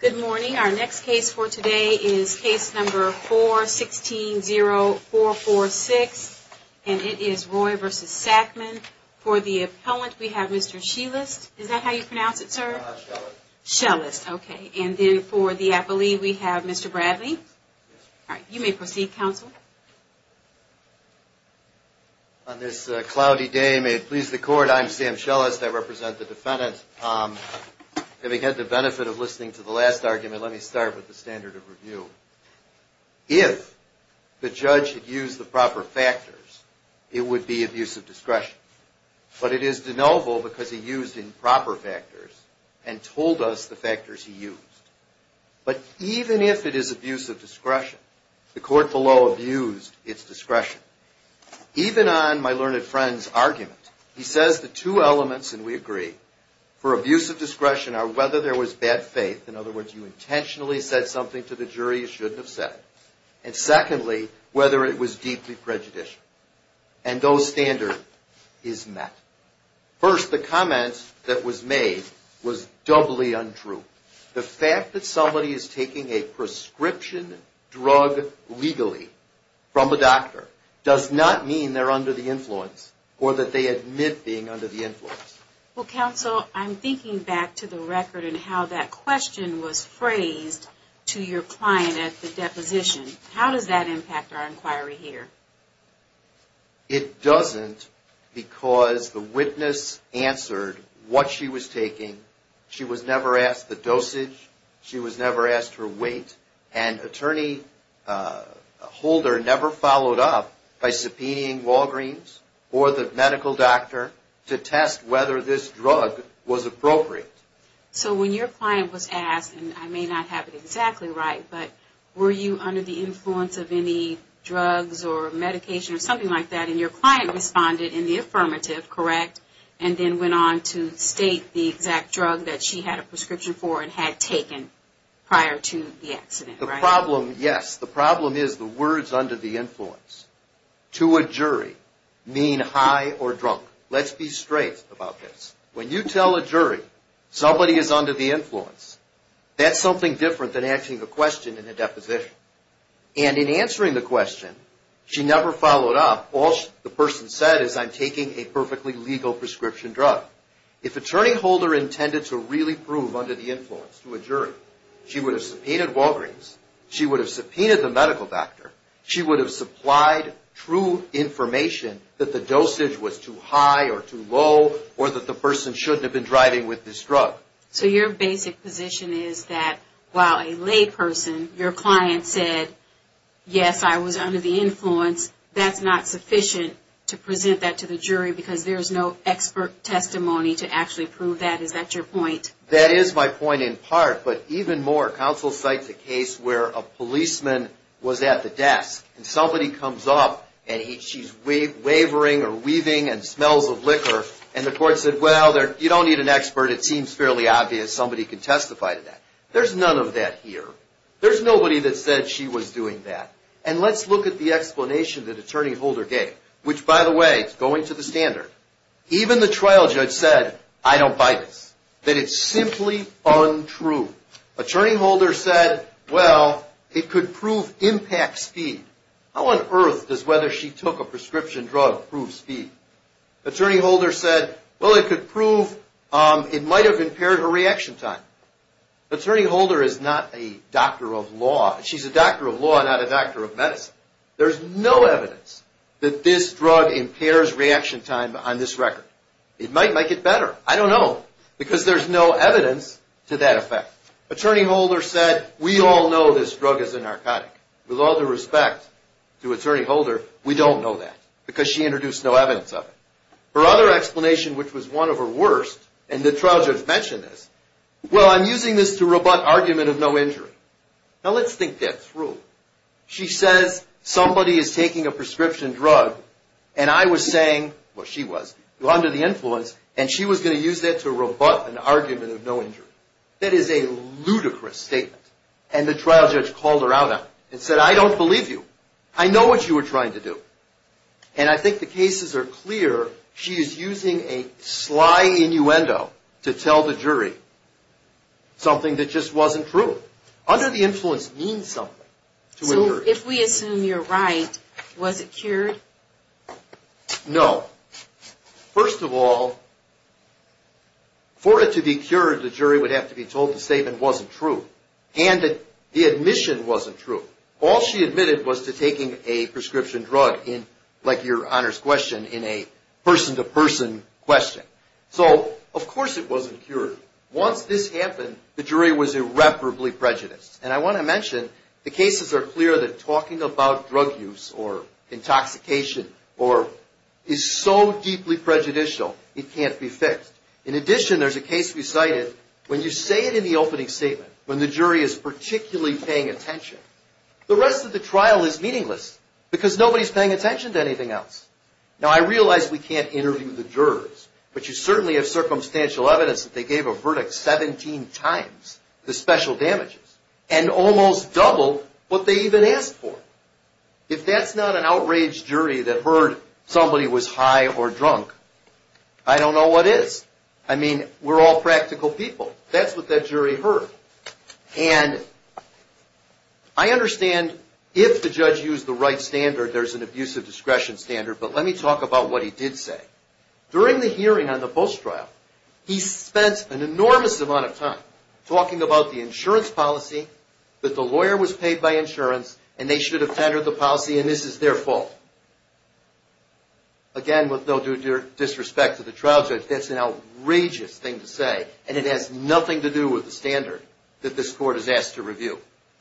Good morning. Our next case for today is case number 416-0446, and it is Roy v. Sackman. For the appellant, we have Mr. Schellest, is that how you pronounce it, sir? Schellest. Schellest, okay. And then for the appellee, we have Mr. Bradley. You may proceed, counsel. Schellest. On this cloudy day, may it please the court, I'm Sam Schellest. I represent the defendant. Having had the benefit of listening to the last argument, let me start with the standard of review. If the judge had used the proper factors, it would be abuse of discretion. But it is de novo because he used improper factors and told us the factors he used. But even if it is abuse of discretion, the court below abused its discretion. Even on my learned friend's argument, he says the two elements, and we agree, for abuse of discretion are whether there was bad faith, in other words, you intentionally said something to the jury you shouldn't have said, and secondly, whether it was deeply prejudicial. And those standards is met. First, the comment that was made was doubly untrue. The fact that somebody is taking a prescription drug legally from a doctor does not mean they're under the influence or that they admit being under the influence. Well, counsel, I'm thinking back to the record and how that question was phrased to your client at the deposition. How does that impact our inquiry here? It doesn't because the witness answered what she was taking. She was never asked the dosage. She was never asked her weight. And attorney Holder never followed up by subpoenaing Walgreens or the medical doctor to test whether this drug was appropriate. So when your client was asked, and I may not have it exactly right, but were you under the influence of any drugs or medication or something like that, and your client responded in the affirmative, correct, and then went on to state the exact drug that she had a prescription for and had taken prior to the accident, right? The problem, yes, the problem is the words under the influence to a jury mean high or drunk. Let's be straight about this. When you tell a jury somebody is under the influence, that's something different than asking a question in a deposition. And in answering the question, she never followed up. All the person said is I'm taking a perfectly legal prescription drug. If attorney Holder intended to really prove under the influence to a jury, she would have subpoenaed Walgreens. She would have subpoenaed the medical doctor. She would have supplied true information that the dosage was too high or too low or that the person shouldn't have been driving with this drug. So your basic position is that while a layperson, your client said, yes, I was under the influence, that's not sufficient to present that to the jury because there's no expert testimony to actually prove that. Is that your point? That is my point in part. But even more, counsel cites a case where a policeman was at the desk and somebody comes up and she's wavering or weaving and smells of liquor and the court said, well, you don't need an expert. It seems fairly obvious somebody can testify to that. There's none of that here. There's nobody that said she was doing that. And let's look at the explanation that attorney Holder gave, which, by the way, is going to the standard. Even the trial judge said, I don't buy this, that it's simply untrue. Attorney Holder said, well, it could prove impact speed. How on earth does whether she took a prescription drug prove speed? Attorney Holder said, well, it could prove it might have impaired her reaction time. Attorney Holder is not a doctor of law. She's a doctor of law, not a doctor of medicine. There's no evidence that this drug impairs reaction time on this record. It might make it better. I don't know because there's no evidence to that effect. Attorney Holder said, we all know this drug is a narcotic. With all due respect to attorney Holder, we don't know that because she introduced no evidence of it. Her other explanation, which was one of her worst, and the trial judge mentioned this, well, I'm using this to rebut argument of no injury. Now, let's think that through. She says somebody is taking a prescription drug, and I was saying, well, she was, under the influence, and she was going to use that to rebut an argument of no injury. That is a ludicrous statement. And the trial judge called her out and said, I don't believe you. I know what you were trying to do. And I think the cases are clear. She is using a sly innuendo to tell the jury something that just wasn't true. Under the influence means something. So if we assume you're right, was it cured? No. First of all, for it to be cured, the jury would have to be told the statement wasn't true, and that the admission wasn't true. All she admitted was to taking a prescription drug in, like your honors question, in a person-to-person question. So, of course it wasn't cured. Once this happened, the jury was irreparably prejudiced. And I want to mention, the cases are clear that talking about drug use or intoxication is so deeply prejudicial, it can't be fixed. In addition, there's a case we cited, when you say it in the opening statement, when the jury is particularly paying attention, the rest of the trial is meaningless because nobody is paying attention to anything else. Now, I realize we can't interview the jurors, but you certainly have circumstantial evidence that they gave a verdict 17 times the special damages, and almost double what they even asked for. If that's not an outraged jury that heard somebody was high or drunk, I don't know what is. I mean, we're all practical people. That's what that jury heard. And I understand if the judge used the right standard, there's an abusive discretion standard, but let me talk about what he did say. During the hearing on the post-trial, he spent an enormous amount of time talking about the insurance policy, that the lawyer was paid by insurance, and they should have tendered the policy, and this is their fault. Again, with no disrespect to the trial judge, that's an outrageous thing to say, and it has nothing to do with the standard that this court has asked to review.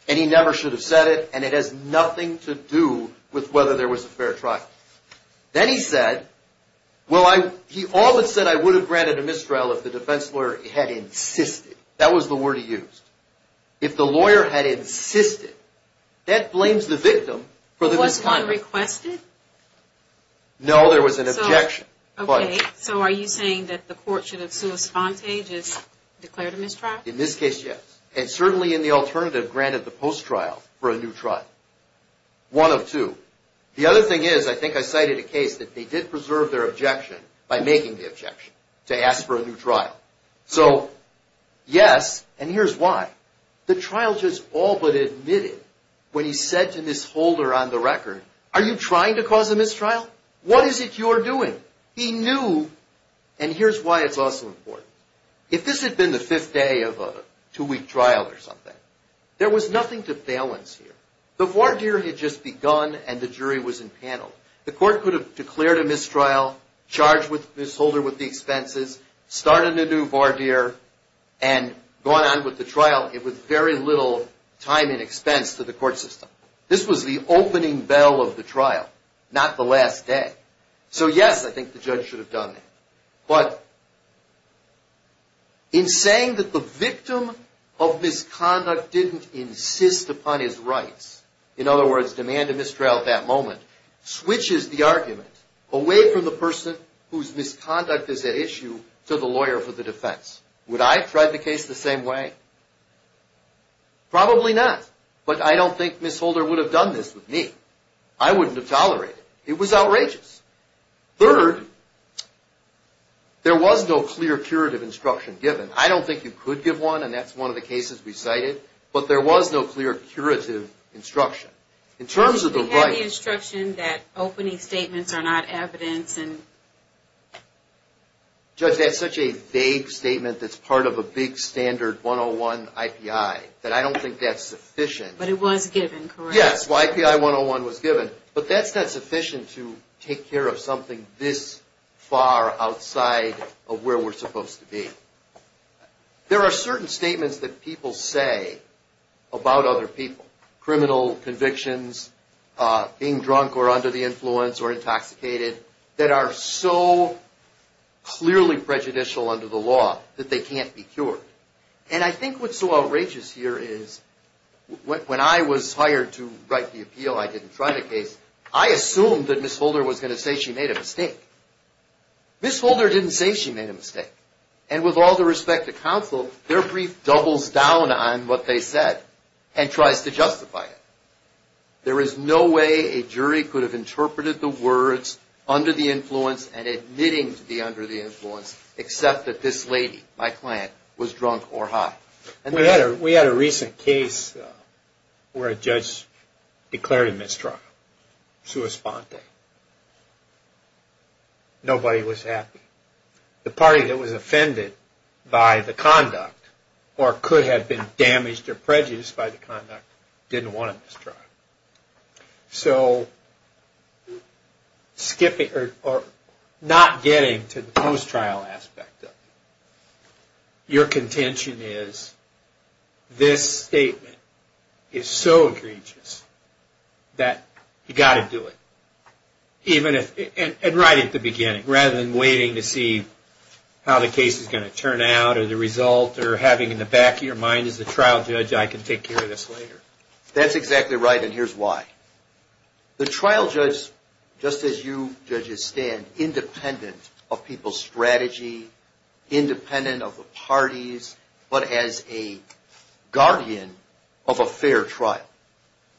And he never should have said it, and it has nothing to do with whether there was a fair trial. Then he said, well, he all but said, I would have granted a mistrial if the defense lawyer had insisted. That was the word he used. If the lawyer had insisted, that blames the victim for the mistrial. Was one requested? No, there was an objection. Okay, so are you saying that the court should have sua sponte, just declared a mistrial? In this case, yes. And certainly in the alternative, granted the post-trial for a new trial. One of two. The other thing is, I think I cited a case that they did preserve their objection by making the objection to ask for a new trial. So, yes, and here's why. The trial judge all but admitted when he said to Miss Holder on the record, are you trying to cause a mistrial? What is it you're doing? He knew, and here's why it's also important. If this had been the fifth day of a two-week trial or something, there was nothing to balance here. The voir dire had just begun, and the jury was impaneled. The court could have declared a mistrial, charged Miss Holder with the expenses, started a new voir dire, and gone on with the trial with very little time and expense to the court system. This was the opening bell of the trial, not the last day. So, yes, I think the judge should have done that. But in saying that the victim of misconduct didn't insist upon his rights, in other words, demand a mistrial at that moment, switches the argument away from the person whose misconduct is at issue to the lawyer for the defense. Would I have tried the case the same way? Probably not, but I don't think Miss Holder would have done this with me. I wouldn't have tolerated it. It was outrageous. Third, there was no clear curative instruction given. I don't think you could give one, and that's one of the cases we cited, but there was no clear curative instruction. We had the instruction that opening statements are not evidence. Judge, that's such a vague statement that's part of a big standard 101 IPI that I don't think that's sufficient. But it was given, correct? Yes, YPI 101 was given, but that's not sufficient to take care of something this far outside of where we're supposed to be. There are certain statements that people say about other people, criminal convictions, being drunk or under the influence or intoxicated, that are so clearly prejudicial under the law that they can't be cured. And I think what's so outrageous here is when I was hired to write the appeal, I didn't try the case, I assumed that Miss Holder was going to say she made a mistake. Miss Holder didn't say she made a mistake, and with all due respect to counsel, their brief doubles down on what they said and tries to justify it. There is no way a jury could have interpreted the words under the influence and admitting to be under the influence except that this lady, my client, was drunk or high. We had a recent case where a judge declared a mistrial, sua sponte. Nobody was happy. The party that was offended by the conduct or could have been damaged or prejudiced by the conduct didn't want a mistrial. So skipping or not getting to the post-trial aspect of it, your contention is this statement is so egregious that you've got to do it. And right at the beginning, rather than waiting to see how the case is going to turn out or the result or having in the back of your mind as a trial judge, I can take care of this later. That's exactly right, and here's why. The trial judge, just as you judges stand, independent of people's strategy, independent of the parties, but as a guardian of a fair trial.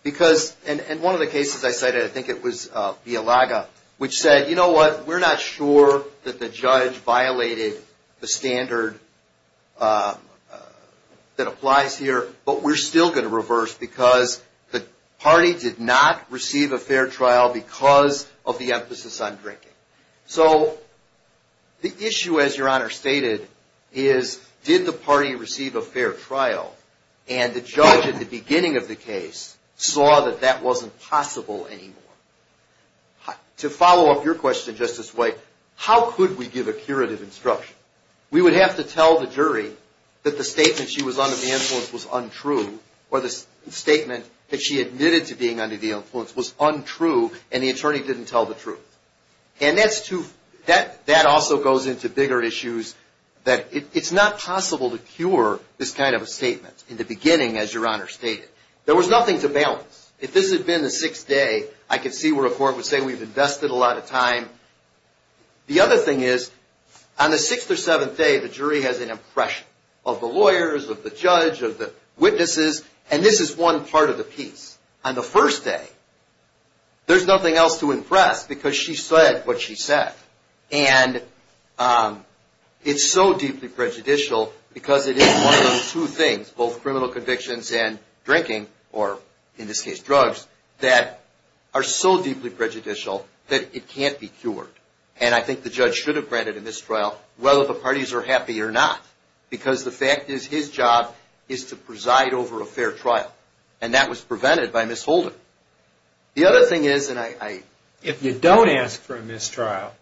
And one of the cases I cited, I think it was Villalaga, which said, you know what? We're not sure that the judge violated the standard that applies here, but we're still going to reverse because the party did not receive a fair trial because of the emphasis on drinking. So the issue, as Your Honor stated, is did the party receive a fair trial and the judge at the beginning of the case saw that that wasn't possible anymore? To follow up your question, Justice White, how could we give a curative instruction? We would have to tell the jury that the statement she was under the influence was untrue or the statement that she admitted to being under the influence was untrue and the attorney didn't tell the truth. And that also goes into bigger issues that it's not possible to cure this kind of a statement in the beginning, as Your Honor stated. There was nothing to balance. If this had been the sixth day, I could see where a court would say we've invested a lot of time. The other thing is on the sixth or seventh day, the jury has an impression of the lawyers, of the judge, of the witnesses, and this is one part of the piece. On the first day, there's nothing else to impress because she said what she said. And it's so deeply prejudicial because it is one of those two things, both criminal convictions and drinking, or in this case drugs, that are so deeply prejudicial that it can't be cured. And I think the judge should have granted a mistrial whether the parties are happy or not because the fact is his job is to preside over a fair trial, and that was prevented by misholding. The other thing is, and I... If you don't ask for a mistrial,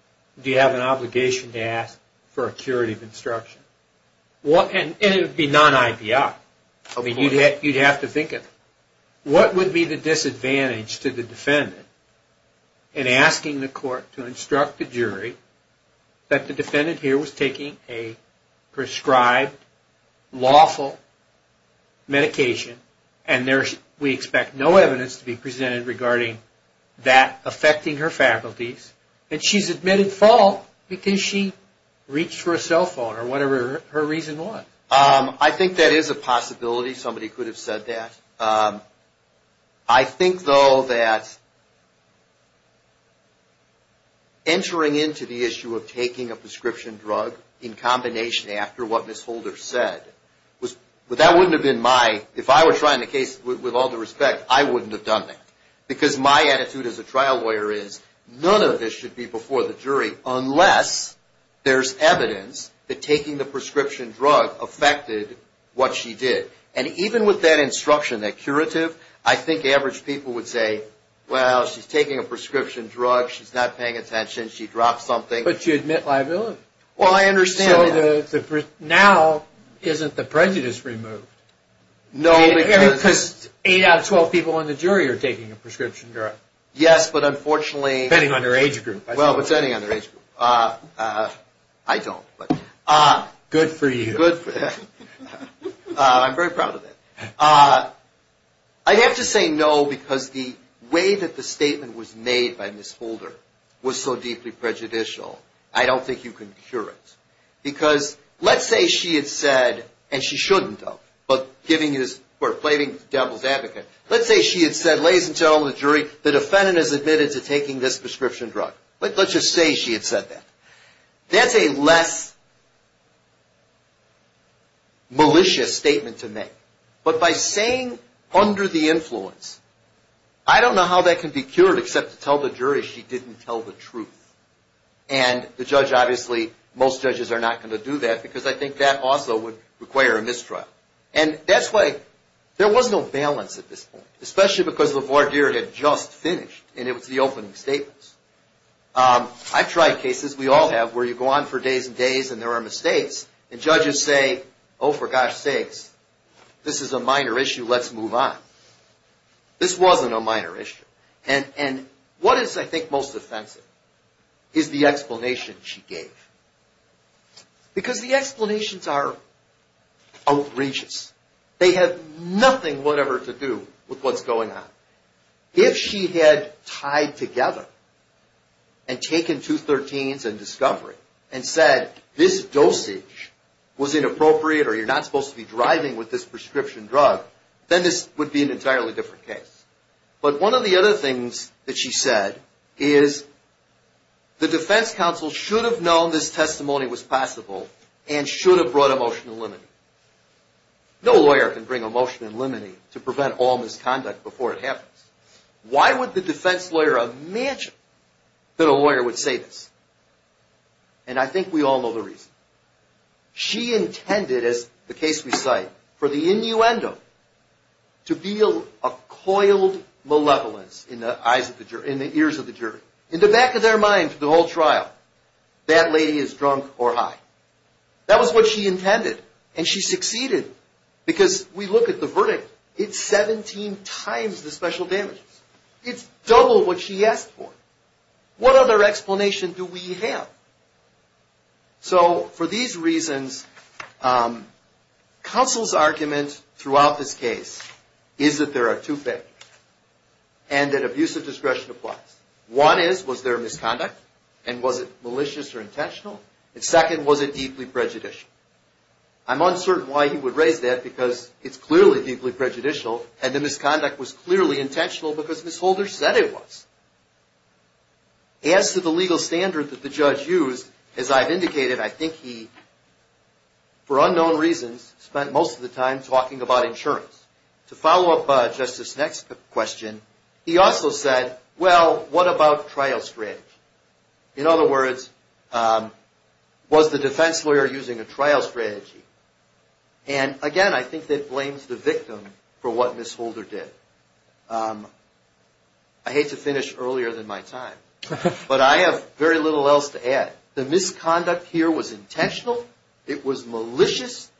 do you have an obligation to ask for a curative instruction? And it would be non-IBI. You'd have to think of it. What would be the disadvantage to the defendant in asking the court to instruct the jury that the defendant here was taking a prescribed, lawful medication, and we expect no evidence to be presented regarding that affecting her faculties, and she's admitted fault because she reached for a cell phone or whatever her reason was? I think that is a possibility. Somebody could have said that. I think, though, that entering into the issue of taking a prescription drug in combination after what Ms. Holder said was... But that wouldn't have been my... If I were trying the case with all due respect, I wouldn't have done that because my attitude as a trial lawyer is none of this should be before the jury unless there's evidence that taking the prescription drug affected what she did. And even with that instruction, that curative, I think average people would say, well, she's taking a prescription drug. She's not paying attention. She dropped something. But she admit liability. Well, I understand... So now isn't the prejudice removed? No, because... Because 8 out of 12 people in the jury are taking a prescription drug. Yes, but unfortunately... Depending on their age group. Well, depending on their age group. I don't, but... Good for you. Good for them. I'm very proud of that. I'd have to say no because the way that the statement was made by Ms. Holder was so deeply prejudicial. I don't think you can cure it. Because let's say she had said, and she shouldn't have, but giving his, or plating the devil's advocate. Let's say she had said, ladies and gentlemen of the jury, the defendant has admitted to taking this prescription drug. Let's just say she had said that. That's a less malicious statement to make. But by saying under the influence, I don't know how that can be cured except to tell the jury she didn't tell the truth. And the judge obviously, most judges are not going to do that because I think that also would require a mistrial. And that's why there was no balance at this point, especially because the voir dire had just finished and it was the opening statements. I've tried cases. We all have where you go on for days and days and there are mistakes. And judges say, oh, for gosh sakes, this is a minor issue. Let's move on. This wasn't a minor issue. And what is, I think, most offensive is the explanation she gave. Because the explanations are outrageous. They have nothing whatever to do with what's going on. If she had tied together and taken 213s and Discovery and said this dosage was inappropriate or you're not supposed to be driving with this prescription drug, then this would be an entirely different case. But one of the other things that she said is the defense counsel should have known this testimony was possible and should have brought a motion in limine. No lawyer can bring a motion in limine to prevent all misconduct before it happens. Why would the defense lawyer imagine that a lawyer would say this? And I think we all know the reason. She intended, as the case we cite, for the innuendo to be a coiled malevolence in the eyes of the jury, in the ears of the jury. In the back of their mind for the whole trial, that lady is drunk or high. That was what she intended. And she succeeded. Because we look at the verdict, it's 17 times the special damages. It's double what she asked for. What other explanation do we have? So for these reasons, counsel's argument throughout this case is that there are two things. And that abusive discretion applies. One is, was there misconduct? And was it malicious or intentional? And second, was it deeply prejudicial? I'm uncertain why he would raise that because it's clearly deeply prejudicial. And the misconduct was clearly intentional because Ms. Holder said it was. As to the legal standard that the judge used, as I've indicated, I think he, for unknown reasons, spent most of the time talking about insurance. To follow up Justice's next question, he also said, well, what about trial strategy? In other words, was the defense lawyer using a trial strategy? And, again, I think that blames the victim for what Ms. Holder did. I hate to finish earlier than my time, but I have very little else to add. The misconduct here was intentional. It was malicious.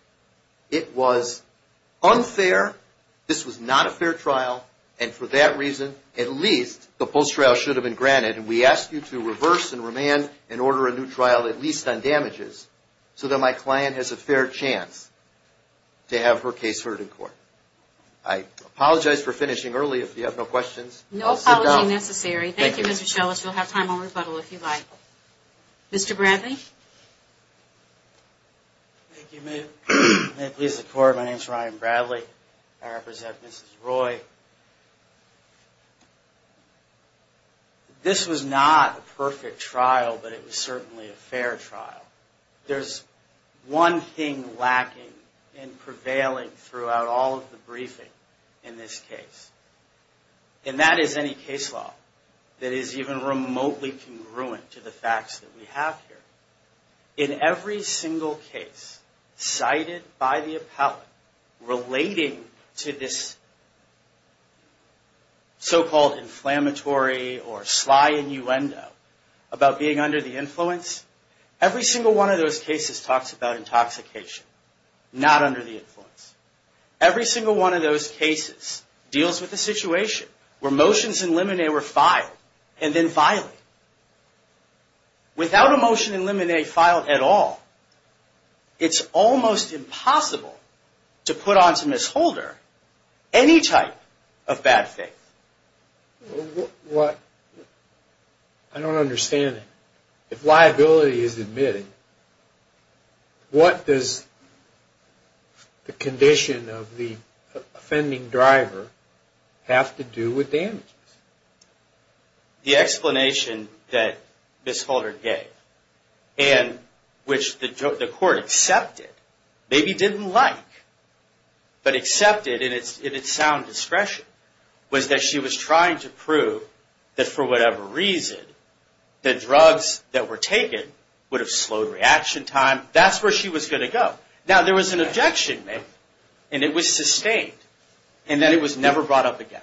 It was unfair. This was not a fair trial. And for that reason, at least the post-trial should have been granted. And we ask you to reverse and remand and order a new trial, at least on damages, so that my client has a fair chance to have her case heard in court. I apologize for finishing early. If you have no questions, I'll sit down. No apology necessary. Thank you, Mr. Schellas. We'll have time on rebuttal if you'd like. Mr. Bradley? Thank you. May it please the Court, my name is Ryan Bradley. I represent Mrs. Roy. This was not a perfect trial, but it was certainly a fair trial. There's one thing lacking and prevailing throughout all of the briefing in this case. And that is any case law that is even remotely congruent to the facts that we have here. In every single case cited by the appellate relating to this so-called inflammatory or sly innuendo about being under the influence, every single one of those cases talks about intoxication, not under the influence. Every single one of those cases deals with a situation where motions in limine were filed and then violated. Without a motion in limine filed at all, it's almost impossible to put onto misholder any type of bad faith. I don't understand it. If liability is admitted, what does the condition of the offending driver have to do with damages? The explanation that Miss Holder gave, and which the court accepted, maybe didn't like, but accepted in its sound discretion, was that she was trying to prove that for whatever reason, the drugs that were taken would have slowed reaction time. That's where she was going to go. Now, there was an objection made, and it was sustained, and that it was never brought up again.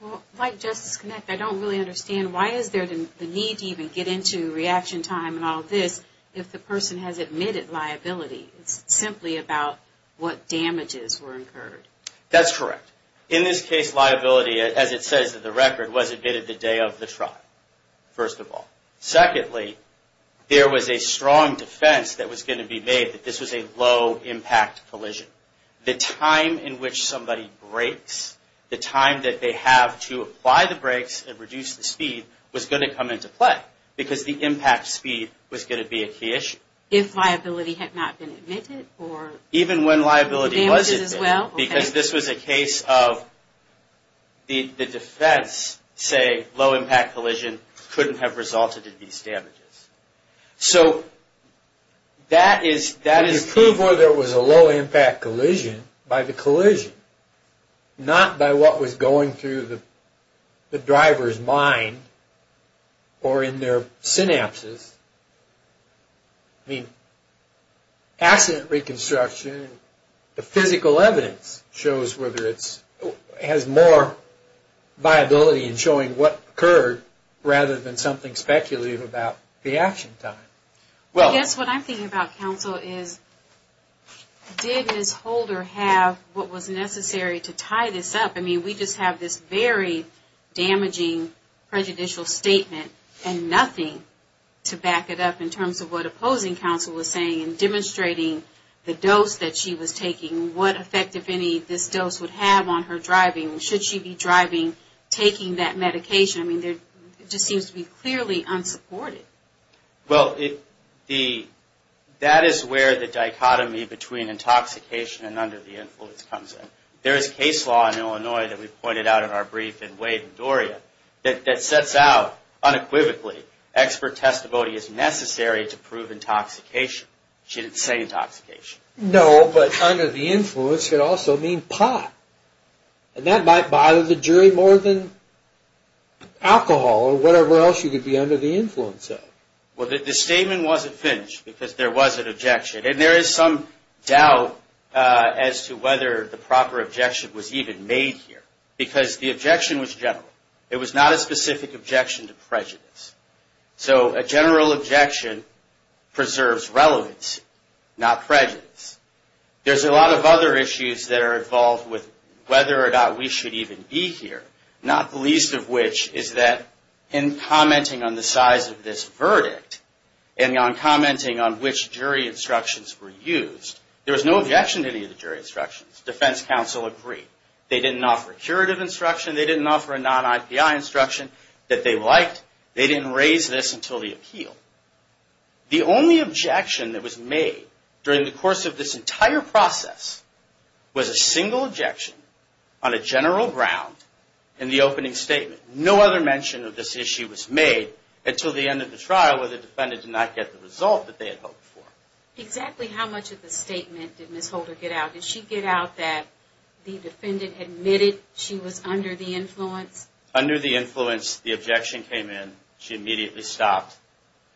Well, like Justice Knecht, I don't really understand why is there the need to even get into reaction time and all this if the person has admitted liability. It's simply about what damages were incurred. That's correct. In this case, liability, as it says in the record, was admitted the day of the trial, first of all. Secondly, there was a strong defense that was going to be made that this was a low-impact collision. The time in which somebody brakes, the time that they have to apply the brakes and reduce the speed, was going to come into play, because the impact speed was going to be a key issue. If liability had not been admitted? Even when liability was admitted, because this was a case of the defense saying low-impact collision couldn't have resulted in these damages. So that is... You prove whether it was a low-impact collision by the collision, not by what was going through the driver's mind or in their synapses. I mean, accident reconstruction, the physical evidence shows whether it has more viability in showing what occurred rather than something speculative about the action time. I guess what I'm thinking about, counsel, is did Ms. Holder have what was necessary to tie this up? I mean, we just have this very damaging prejudicial statement and nothing to back it up in terms of what opposing counsel was saying in demonstrating the dose that she was taking, what effect, if any, this dose would have on her driving. Should she be driving, taking that medication? I mean, it just seems to be clearly unsupported. Well, that is where the dichotomy between intoxication and under the influence comes in. There is case law in Illinois that we pointed out in our brief in Wade and Doria that sets out unequivocally expert testimony is necessary to prove intoxication. She didn't say intoxication. No, but under the influence could also mean pot. And that might bother the jury more than alcohol or whatever else you could be under the influence of. Well, the statement wasn't finished because there was an objection. And there is some doubt as to whether the proper objection was even made here because the objection was general. It was not a specific objection to prejudice. So a general objection preserves relevance, not prejudice. There's a lot of other issues that are involved with whether or not we should even be here, not the least of which is that in commenting on the size of this verdict and on commenting on which jury instructions were used, there was no objection to any of the jury instructions. Defense counsel agreed. They didn't offer curative instruction. They didn't offer a non-IPI instruction that they liked. They didn't raise this until the appeal. The only objection that was made during the course of this entire process was a single objection on a general ground in the opening statement. No other mention of this issue was made until the end of the trial where the defendant did not get the result that they had hoped for. Exactly how much of the statement did Ms. Holder get out? Under the influence, the objection came in. She immediately stopped.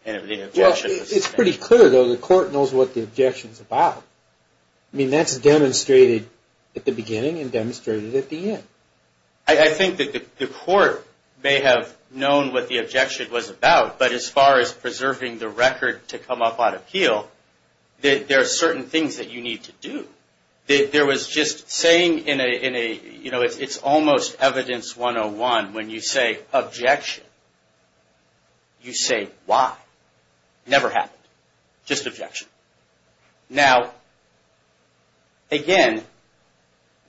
Well, it's pretty clear, though. The court knows what the objection's about. I mean, that's demonstrated at the beginning and demonstrated at the end. I think that the court may have known what the objection was about, but as far as preserving the record to come up on appeal, there are certain things that you need to do. There was just saying in a, you know, it's almost evidence 101. When you say objection, you say why. Never happened. Just objection. Now, again,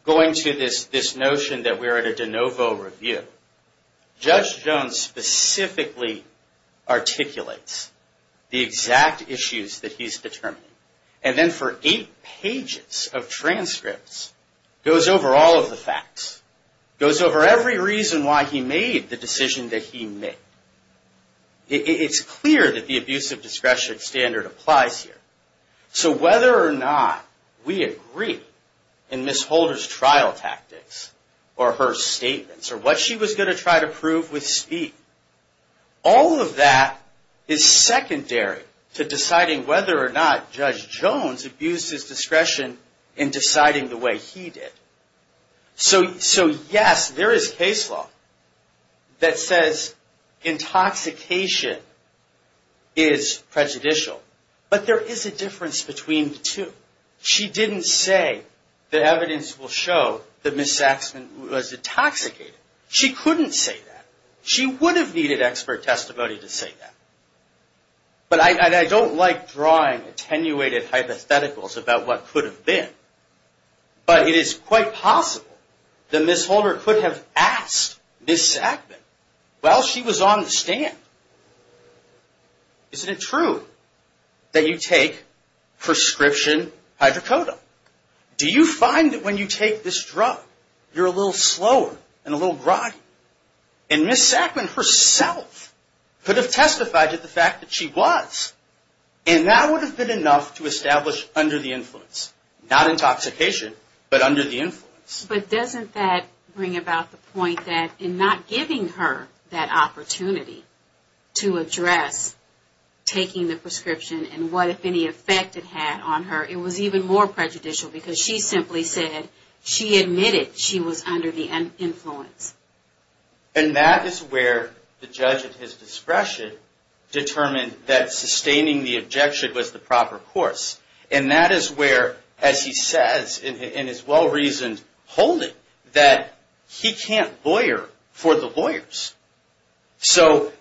going to this notion that we're at a de novo review, Judge Jones specifically articulates the exact issues that he's determining. And then for eight pages of transcripts, goes over all of the facts. Goes over every reason why he made the decision that he made. It's clear that the abusive discretion standard applies here. So whether or not we agree in Ms. Holder's trial tactics or her statements or what she was going to try to prove with speed, all of that is secondary to deciding whether or not Judge Jones abused his discretion in deciding the way he did. So, yes, there is case law that says intoxication is prejudicial, but there is a difference between the two. She didn't say that evidence will show that Ms. Saxman was intoxicated. She couldn't say that. She would have needed expert testimony to say that. But I don't like drawing attenuated hypotheticals about what could have been, but it is quite possible that Ms. Holder could have asked Ms. Saxman while she was on the stand, is it true that you take prescription hydrocodone? Do you find that when you take this drug, you're a little slower and a little groggy? And Ms. Saxman herself could have testified to the fact that she was, and that would have been enough to establish under the influence. Not intoxication, but under the influence. But doesn't that bring about the point that in not giving her that opportunity to address taking the prescription and what, if any, effect it had on her, it was even more prejudicial because she simply said she admitted she was under the influence. And that is where the judge at his discretion determined that sustaining the objection was the proper course. And that is where, as he says in his well-reasoned holding, that he can't lawyer for the lawyers. So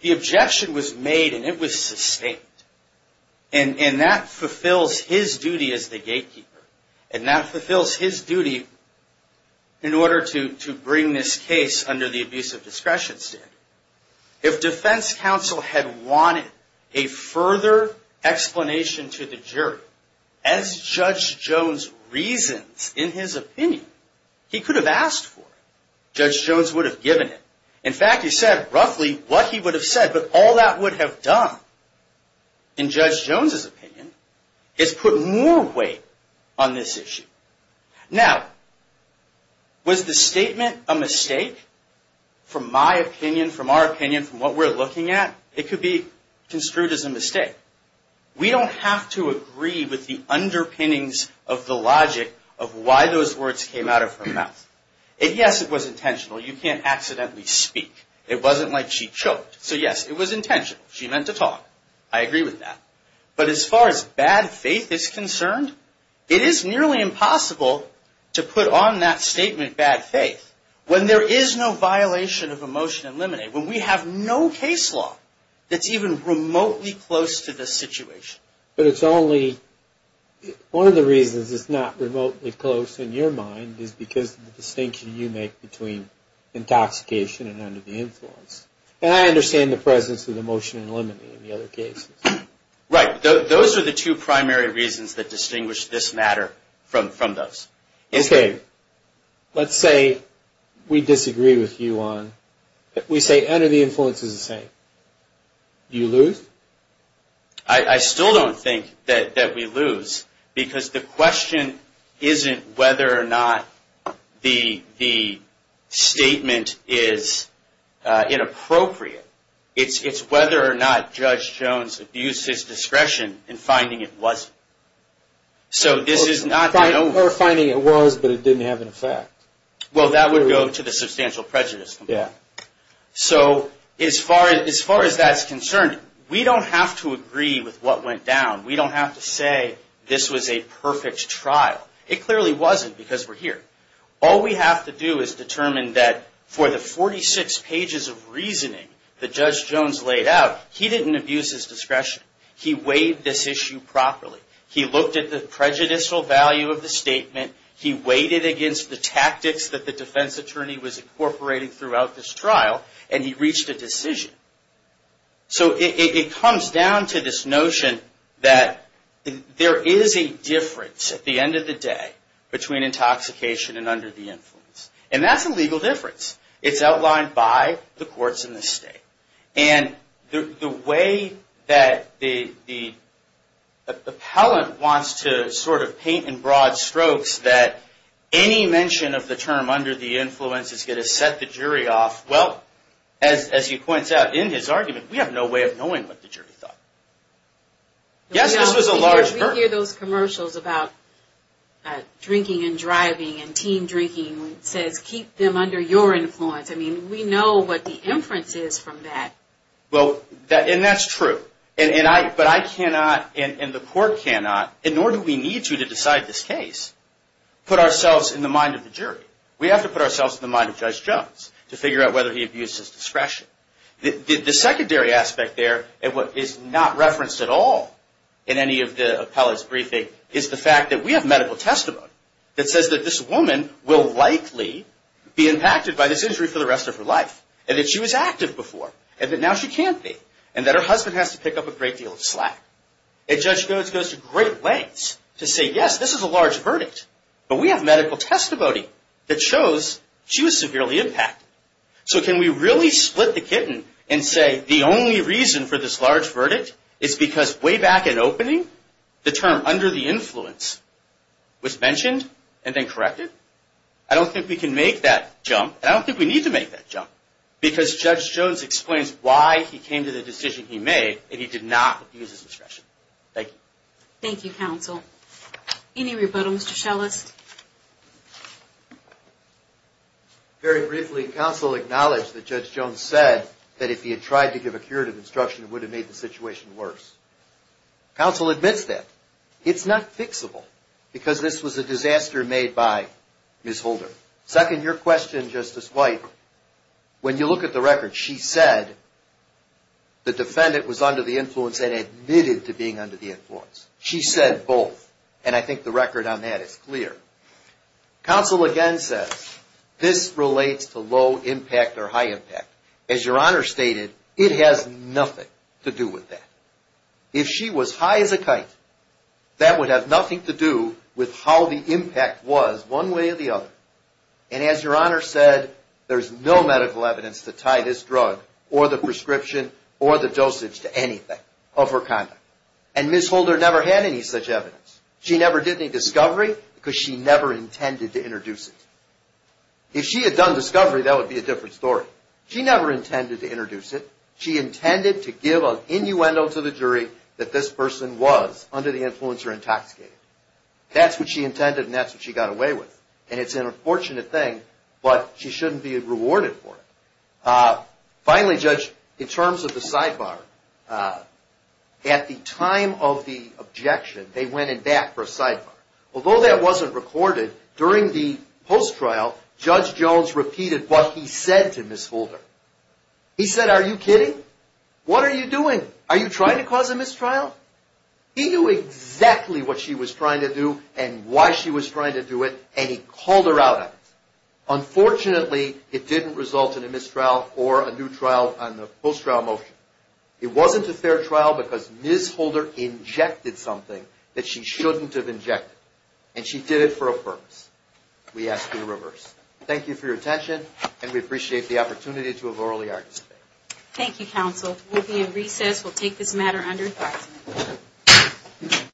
the objection was made and it was sustained. And that fulfills his duty as the gatekeeper. And that fulfills his duty in order to bring this case under the abusive discretion standard. If defense counsel had wanted a further explanation to the jury, as Judge Jones reasons in his opinion, he could have asked for it. Judge Jones would have given it. In fact, he said roughly what he would have said, but all that would have done, in Judge Jones's opinion, is put more weight on this issue. Now, was the statement a mistake from my opinion, from our opinion, from what we're looking at? It could be construed as a mistake. We don't have to agree with the underpinnings of the logic of why those words came out of her mouth. If, yes, it was intentional, you can't accidentally speak. It wasn't like she choked. So, yes, it was intentional. She meant to talk. I agree with that. But as far as bad faith is concerned, it is nearly impossible to put on that statement bad faith when there is no violation of a motion to eliminate, when we have no case law that's even remotely close to the situation. But it's only one of the reasons it's not remotely close in your mind is because of the distinction you make between intoxication and under the influence. And I understand the presence of the motion to eliminate in the other cases. Right. Those are the two primary reasons that distinguish this matter from those. Okay. Let's say we disagree with you on, we say under the influence is the same. Do you lose? I still don't think that we lose because the question isn't whether or not the motion is appropriate. It's whether or not Judge Jones abused his discretion in finding it wasn't. So, this is not that over. Or finding it was, but it didn't have an effect. Well, that would go to the substantial prejudice complaint. Yeah. So, as far as that's concerned, we don't have to agree with what went down. We don't have to say this was a perfect trial. It clearly wasn't because we're here. All we have to do is determine that for the 46 pages of reasoning that Judge Jones laid out, he didn't abuse his discretion. He weighed this issue properly. He looked at the prejudicial value of the statement. He weighed it against the tactics that the defense attorney was incorporating throughout this trial, and he reached a decision. So, it comes down to this notion that there is a difference at the end of the day between intoxication and under the influence. And that's a legal difference. It's outlined by the courts in this state. And the way that the appellant wants to sort of paint in broad strokes that any mention of the term under the influence is going to set the jury off, well, as he points out in his argument, we have no way of knowing what the jury thought. Yes, this was a large burden. We hear those commercials about drinking and driving and team drinking. It says, keep them under your influence. I mean, we know what the inference is from that. Well, and that's true. But I cannot and the court cannot, nor do we need to to decide this case, put ourselves in the mind of the jury. We have to put ourselves in the mind of Judge Jones to figure out whether he abused his discretion. The secondary aspect there, and what is not referenced at all in any of the appellant's briefing, is the fact that we have medical testimony that says that this woman will likely be impacted by this injury for the rest of her life, and that she was active before, and that now she can't be, and that her husband has to pick up a great deal of slack. And Judge Jones goes to great lengths to say, yes, this is a large verdict, but we have medical testimony that shows she was severely impacted. So can we really split the kitten and say the only reason for this large verdict is because way back in opening, the term under the influence was mentioned and then corrected? I don't think we can make that jump, and I don't think we need to make that jump, because Judge Jones explains why he came to the decision he made, and he did not abuse his discretion. Thank you. Thank you, counsel. Any rebuttal, Mr. Schellest? Very briefly, counsel acknowledged that Judge Jones said that if he had tried to give a curative instruction, it would have made the situation worse. Counsel admits that. It's not fixable, because this was a disaster made by Ms. Holder. Second, your question, Justice White, when you look at the record, she said the defendant was under the influence and admitted to being under the influence. She said both, and I think the record on that is clear. Counsel again says this relates to low impact or high impact. As your Honor stated, it has nothing to do with that. If she was high as a kite, that would have nothing to do with how the impact was one way or the other. And as your Honor said, there's no medical evidence to tie this drug or the prescription or the dosage to anything of her conduct. And Ms. Holder never had any such evidence. She never did any discovery, because she never intended to introduce it. If she had done discovery, that would be a different story. She never intended to introduce it. She intended to give an innuendo to the jury that this person was under the influence or intoxicated. That's what she intended, and that's what she got away with. And it's an unfortunate thing, but she shouldn't be rewarded for it. Finally, Judge, in terms of the sidebar, at the time of the objection, they went in back for a sidebar. Although that wasn't recorded, during the post-trial, Judge Jones repeated what he said to Ms. Holder. He said, are you kidding? What are you doing? Are you trying to cause a mistrial? He knew exactly what she was trying to do and why she was trying to do it, and he called her out on it. Unfortunately, it didn't result in a mistrial or a new trial on the post-trial motion. It wasn't a fair trial because Ms. Holder injected something that she shouldn't have injected, and she did it for a purpose. We ask for the reverse. Thank you for your attention, and we appreciate the opportunity to have orally argued today. Thank you, counsel. We'll be in recess. We'll take this matter under thought.